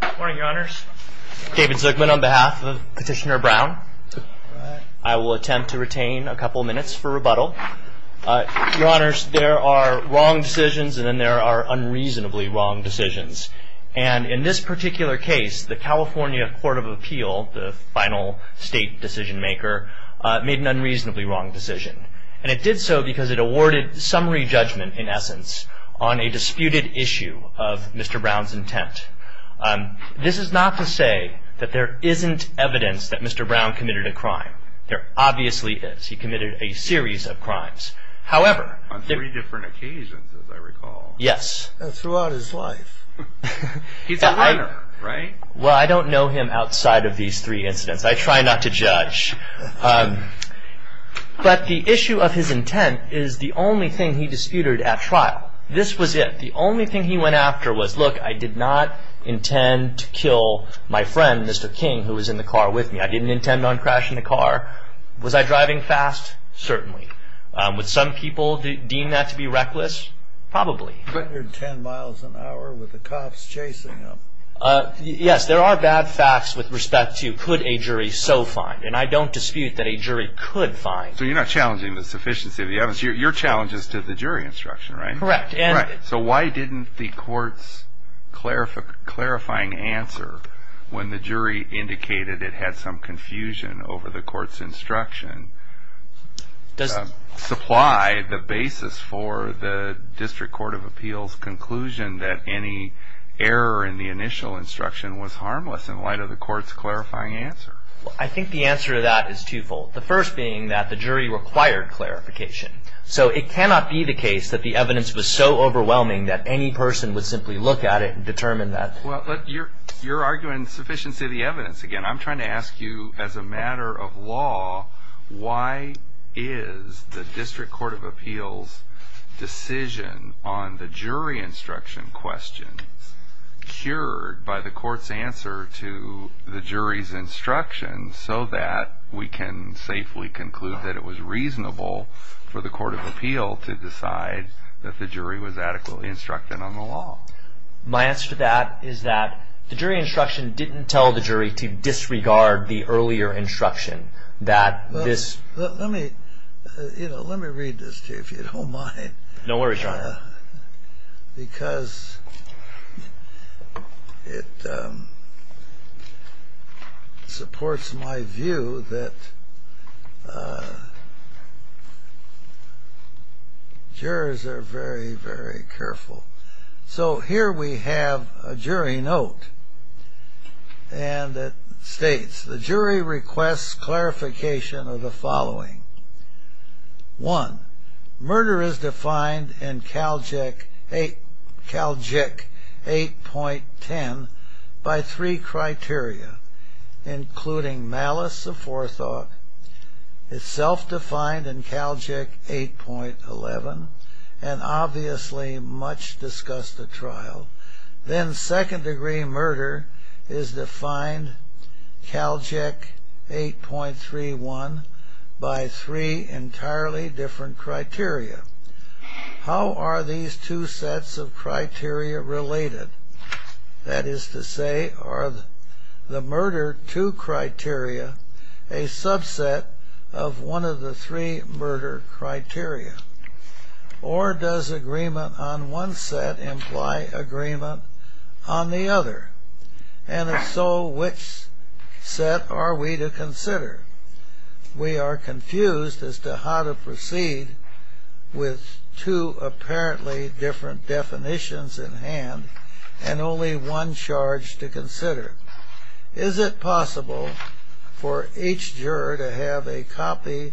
Good morning, your honors. David Zuckman on behalf of Petitioner Brown. I will attempt to retain a couple minutes for rebuttal. Your honors, there are wrong decisions, and then there are unreasonably wrong decisions. And in this particular case, the California Court of Appeal, the final state decision maker, made an unreasonably wrong decision. And it did so because it awarded summary judgment, in essence, on a disputed issue of Mr. Brown's intent. This is not to say that there isn't evidence that Mr. Brown committed a crime. There obviously is. He committed a series of crimes. However, on three different occasions, as I recall. Yes. Throughout his life. He's a liar, right? Well, I don't know him outside of these three incidents. I try not to judge. But the issue of his intent is the only thing he disputed at trial. This was it. The only thing he went after was, look, I did not intend to kill my friend, Mr. King, who was in the car with me. I didn't intend on crashing the car. Was I driving fast? Certainly. Would some people deem that to be reckless? Probably. But you're 10 miles an hour with the cops chasing him. Yes, there are bad facts with respect to, could a jury so find? And I don't dispute that a jury could find. So you're not challenging the sufficiency of the evidence. Your challenge is to the jury instruction, right? Correct. So why didn't the court's clarifying answer, when the jury indicated it had some confusion over the court's instruction, supply the basis for the District Court of Appeals conclusion that any error in the initial instruction was harmless in light of the court's clarifying answer? I think the answer to that is twofold. The first being that the jury required clarification. So it cannot be the case that the evidence was so overwhelming that any person would simply look at it and determine that. Well, you're arguing sufficiency of the evidence again. I'm trying to ask you, as a matter of law, why is the District Court of Appeals decision on the jury instruction question cured by the court's answer to the jury's instruction so that we can safely conclude that it was reasonable for the Court of Appeal to decide that the jury was adequately instructed on the law? My answer to that is that the jury instruction didn't tell the jury to disregard the earlier instruction. That this- Let me read this to you, if you don't mind. Don't worry, John. Because it supports my view that jurors are very, very careful. So here we have a jury note. And it states, the jury requests clarification of the following. One, murder is defined in Cal JEC 8.10 by three criteria, including malice of forethought. It's self-defined in Cal JEC 8.11. Then second degree murder is defined Cal JEC 8.31 by three entirely different criteria. How are these two sets of criteria related? That is to say, are the murder two criteria a subset of one of the three murder criteria? Or does agreement on one set imply agreement on the other? And if so, which set are we to consider? We are confused as to how to proceed with two apparently different definitions in hand and only one charge to consider. Is it possible for each juror to have a copy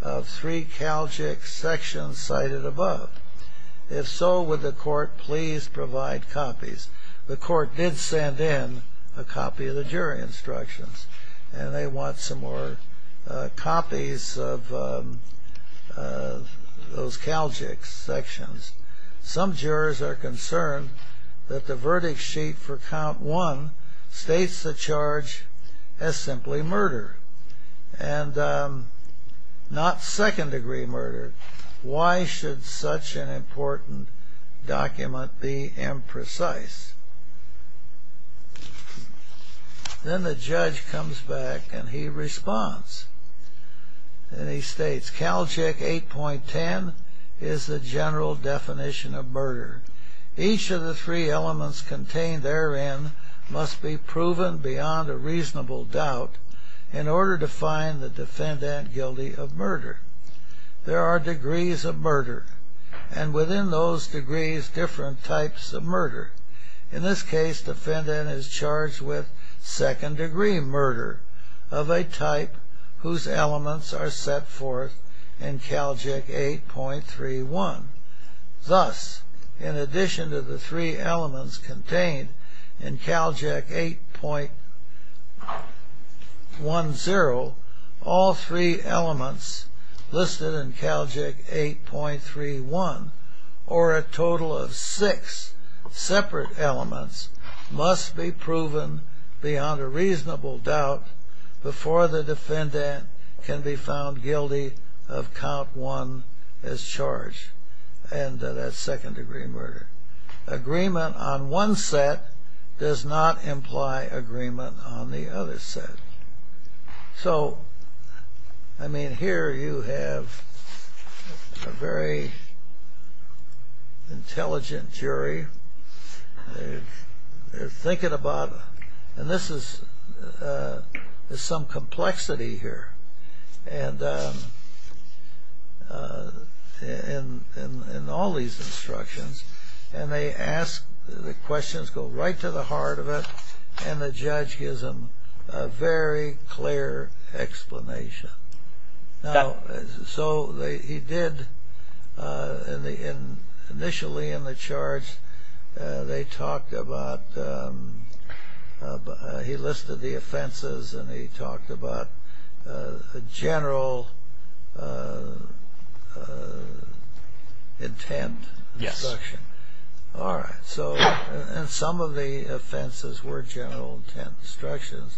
of three Cal JEC sections cited above? If so, would the court please provide copies? The court did send in a copy of the jury instructions. And they want some more copies of those Cal JEC sections. Some jurors are concerned that the verdict sheet for count one states the charge as simply murder. And not second degree murder. Why should such an important document be imprecise? Then the judge comes back and he responds. And he states, Cal JEC 8.10 is the general definition of murder. Each of the three elements contained therein must be proven beyond a reasonable doubt in order to find the defendant guilty of murder. There are degrees of murder. And within those degrees, different types of murder. In this case, defendant is charged with second degree murder of a type whose elements are set forth in Cal JEC 8.31. Thus, in addition to the three elements contained in Cal JEC 8.10, all three elements listed in Cal JEC 8.31, or a total of six separate elements, must be proven beyond a reasonable doubt before the defendant can be found guilty of count one as charged. And that's second degree murder. Agreement on one set does not imply agreement on the other set. So I mean, here you have a very intelligent jury. They're thinking about, and this is some complexity here. And in all these instructions, the questions go right to the heart of it. And the judge gives them a very clear explanation. So he did, initially in the charge, they talked about, he listed the offenses. And he talked about a general intent instruction. All right, so some of the offenses were general intent instructions.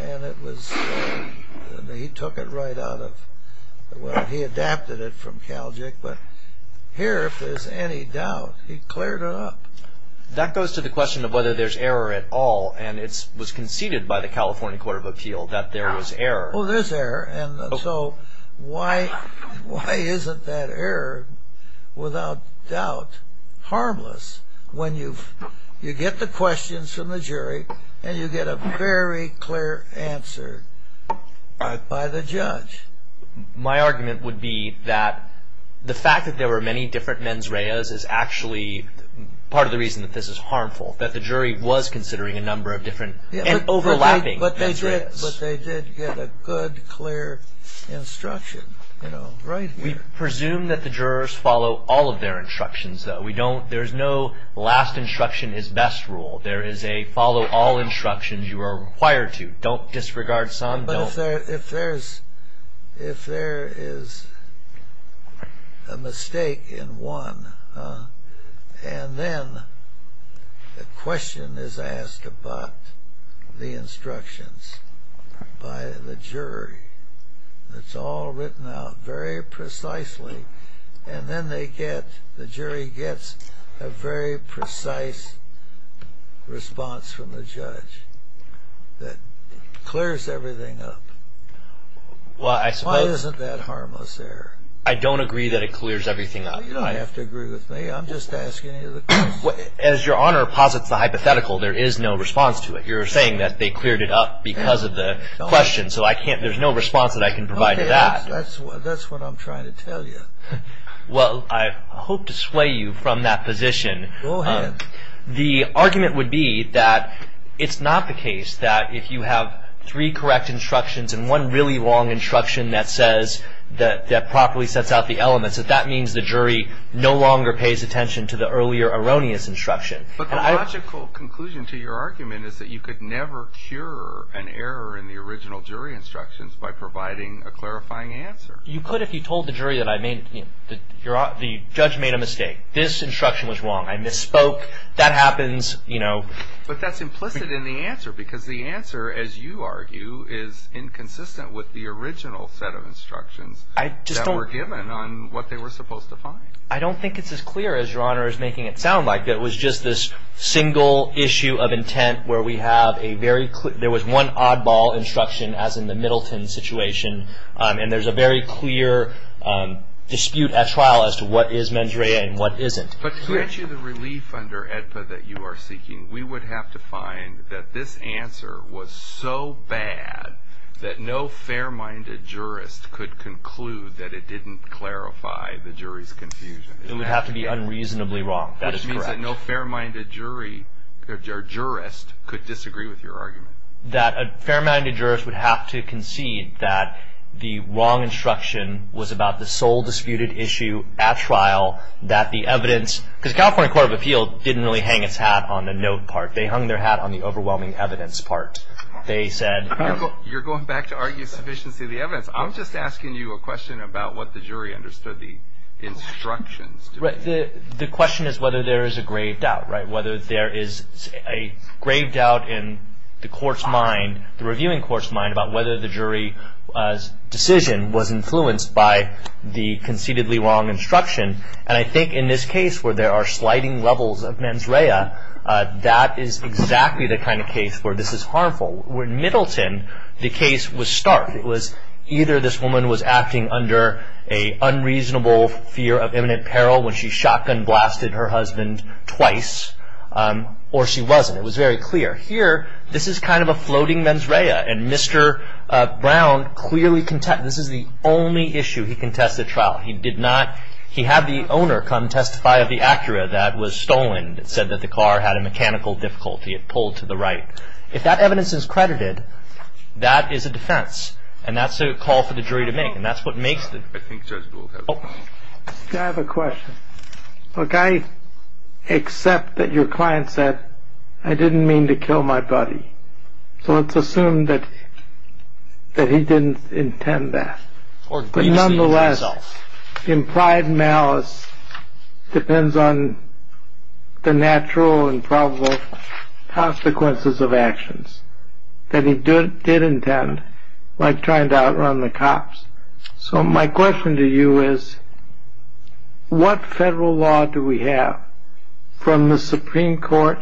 And he took it right out of, well, he adapted it from Cal JEC. But here, if there's any doubt, he cleared it up. That goes to the question of whether there's error at all. And it was conceded by the California Court of Appeal that there was error. Oh, there's error. And so why isn't that error, without doubt, harmless when you get the questions from the jury and you get a very clear answer by the judge? My argument would be that the fact that there were many different mens reas is actually part of the reason that this is harmful, that the jury was considering a number of different and overlapping mens reas. But they did get a good, clear instruction right here. We presume that the jurors follow all of their instructions, though. There's no last instruction is best rule. There is a follow all instructions you are required to. Don't disregard some. Don't. But if there is a mistake in one, and then the question is asked about the instructions by the jury, it's all written out very precisely. And then the jury gets a very precise response from the judge that clears everything up. Why isn't that harmless error? I don't agree that it clears everything up. You don't have to agree with me. I'm just asking you the question. As your honor posits the hypothetical, there is no response to it. You're saying that they cleared it up because of the question. So there's no response that I can provide to that. That's what I'm trying to tell you. Well, I hope to sway you from that position. Go ahead. The argument would be that it's not the case that if you have three correct instructions and one really long instruction that says that that properly sets out the elements, that that means the jury no longer pays attention to the earlier erroneous instruction. But the logical conclusion to your argument is that you could never cure an error in the original jury instructions by providing a clarifying answer. You could if you told the jury that the judge made a mistake. This instruction was wrong. I misspoke. That happens. But that's implicit in the answer, because the answer, as you argue, is inconsistent with the original set of instructions that were given on what they were supposed to find. I don't think it's as clear as Your Honor is making it sound like. It was just this single issue of intent where we have a very clear, there was one oddball instruction, as in the Middleton situation. And there's a very clear dispute at trial as to what is mens rea and what isn't. But to grant you the relief under AEDPA that you are seeking, we would have to find that this answer was so bad that no fair-minded jurist could conclude that it didn't clarify the jury's confusion. It would have to be unreasonably wrong. That is correct. Which means that no fair-minded jury or jurist could disagree with your argument. That a fair-minded jurist would have to concede that the wrong instruction was about the sole disputed issue at trial, that the evidence, because the California Court of Appeal didn't really hang its hat on the note part. They hung their hat on the overwhelming evidence part. They said, You're going back to argue sufficiency of the evidence. I was just asking you a question about what the jury understood the instructions to be. The question is whether there is a grave doubt, whether there is a grave doubt in the court's mind, the reviewing court's mind, about whether the jury's decision was influenced by the concededly wrong instruction. And I think in this case, where there are sliding levels of mens rea, that is exactly the kind of case where this is harmful. Where in Middleton, the case was stark. It was either this woman was acting under a unreasonable fear of imminent peril when she shotgun blasted her husband twice, or she wasn't. It was very clear. Here, this is kind of a floating mens rea. And Mr. Brown clearly contends, this is the only issue he contested at trial. He did not, he had the owner come testify of the Acura that was stolen. It said that the car had a mechanical difficulty. It pulled to the right. If that evidence is credited, that is a defense. And that's a call for the jury to make. And that's what makes the. I think Judge Gould has a point. I have a question. Look, I accept that your client said, I didn't mean to kill my buddy. So let's assume that he didn't intend that. But nonetheless, impried malice depends on the natural and probable consequences of actions that he did intend, like trying to outrun the cops. So my question to you is, what federal law do we have from the Supreme Court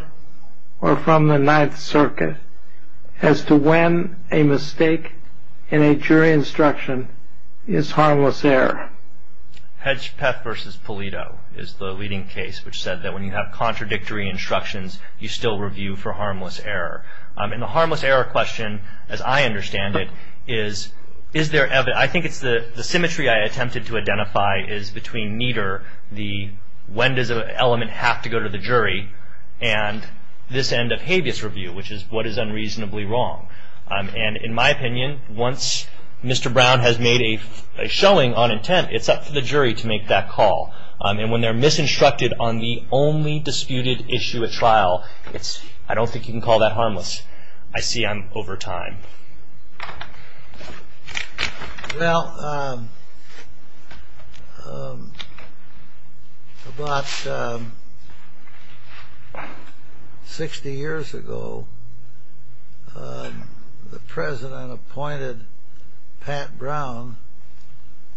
or from the Ninth Circuit as to when a mistake in a jury instruction is harmless error? Hedgepeth versus Pulido is the leading case, which said that when you have contradictory instructions, you still review for harmless error. And the harmless error question, as I understand it, is, is there, I think it's the symmetry I attempted to identify is between meter, the when does an element have to go to the jury, and this end of habeas review, which is what is unreasonably wrong. And in my opinion, once Mr. Brown has made a showing on intent, it's up to the jury to make that call. And when they're misinstructed on the only disputed issue at trial, it's, I don't think you can call that harmless. I see I'm over time. Well, about 60 years ago, the president appointed Pat Brown,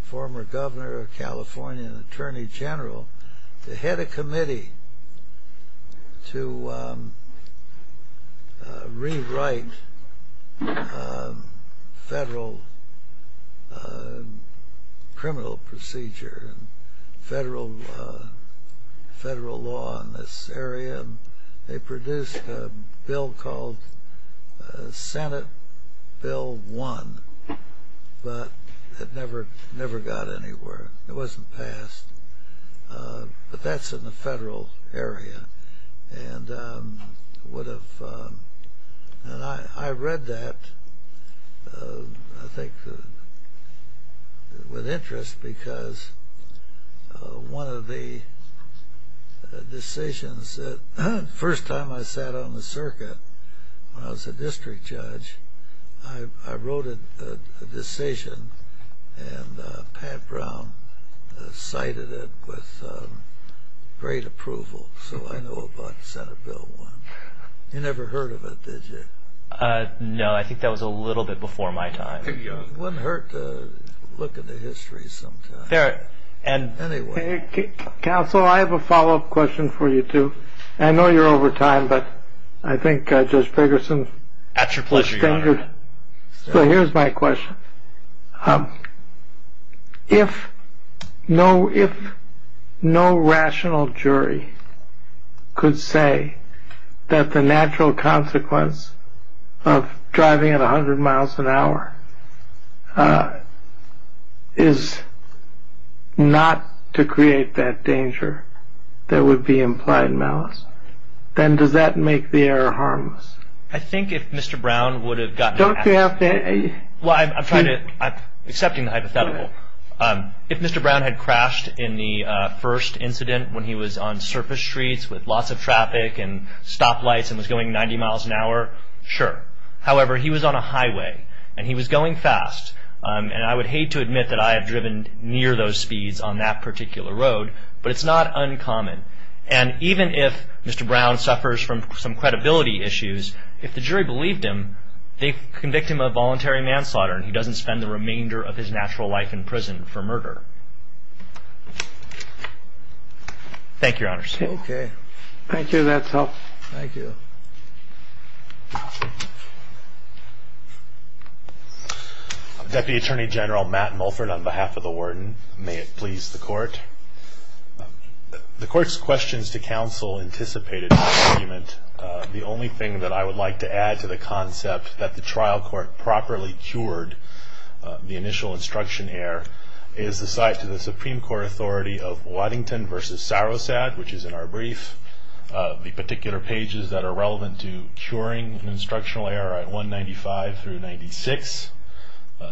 former governor of California and attorney general, to head a committee to rewrite federal criminal procedure and federal law in this area. They produced a bill called Senate Bill 1, but it never got anywhere. It wasn't passed. But that's in the federal area. And I read that, I think, with interest because one of the decisions that first time I sat on the circuit when I was a district judge, I wrote a decision, and Pat Brown cited it with great approval. So I know about Senate Bill 1. You never heard of it, did you? No, I think that was a little bit before my time. It wouldn't hurt to look at the history sometime. And anyway. Counsel, I have a follow-up question for you, too. I know you're over time, but I think Judge Ferguson That's your pleasure, Your Honor. So here's my question. If no rational jury could say that the natural consequence of driving at 100 miles an hour is not to create that danger that would be implied malice, then does that make the error harmless? I think if Mr. Brown would have gotten Don't you have to Well, I'm trying to, I'm accepting the hypothetical. If Mr. Brown had crashed in the first incident when he was on surface streets with lots of traffic and stoplights and was going 90 miles an hour, sure. However, he was on a highway, and he was going fast. And I would hate to admit that I have driven near those speeds on that particular road, but it's not uncommon. And even if Mr. Brown suffers from some credibility issues, if the jury believed him, they'd convict him of voluntary manslaughter, and he in prison for murder. Thank you, Your Honor. OK, thank you. That's all. Thank you. Deputy Attorney General Matt Mulford, on behalf of the warden, may it please the court. The court's questions to counsel anticipated the argument. The only thing that I would like to add to the concept that the trial court properly cured the initial instruction error is the site to the Supreme Court authority of Waddington versus Sarosad, which is in our brief, the particular pages that are relevant to curing an instructional error at 195 through 96.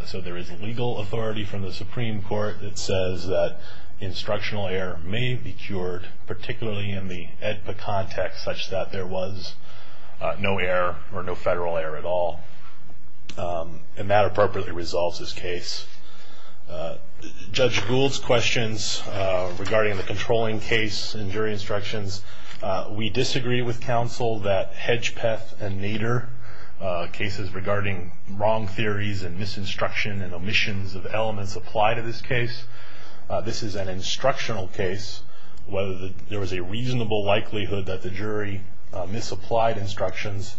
So there is a legal authority from the Supreme Court that says that instructional error may be cured, particularly in the AEDPA context, such that there was no error or no federal error at all. And that appropriately resolves this case. Judge Gould's questions regarding the controlling case and jury instructions, we disagree with counsel that Hedgepeth and Nader, cases regarding wrong theories and misinstruction and omissions of elements apply to this case. This is an instructional case. Whether there was a reasonable likelihood that the jury misapplied instructions,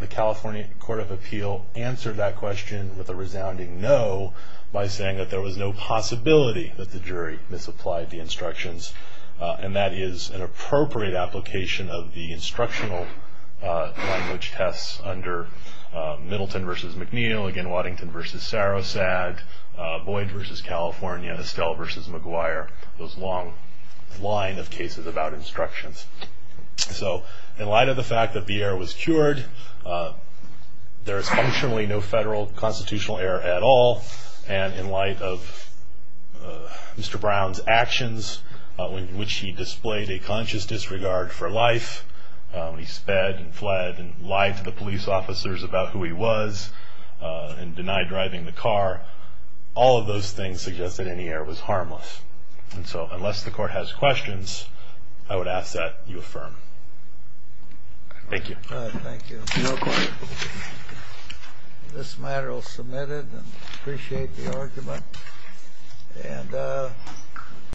the California Court of Appeal answered that question with a resounding no by saying that there was no possibility that the jury misapplied the instructions. And that is an appropriate application of the instructional language tests under Middleton versus McNeil, again, Waddington versus Sarosad, Boyd versus California, Estelle versus McGuire, those long line of cases about instructions. So in light of the fact that the error was cured, there is functionally no federal constitutional error at all. And in light of Mr. Brown's actions, which he displayed a conscious disregard for life, he sped and fled and lied to the police officers about who he was and denied driving the car, all of those things suggest that any error was harmless. And so unless the court has questions, I would ask that you affirm. Thank you. Thank you. No questions. This matter will submit it and appreciate the argument.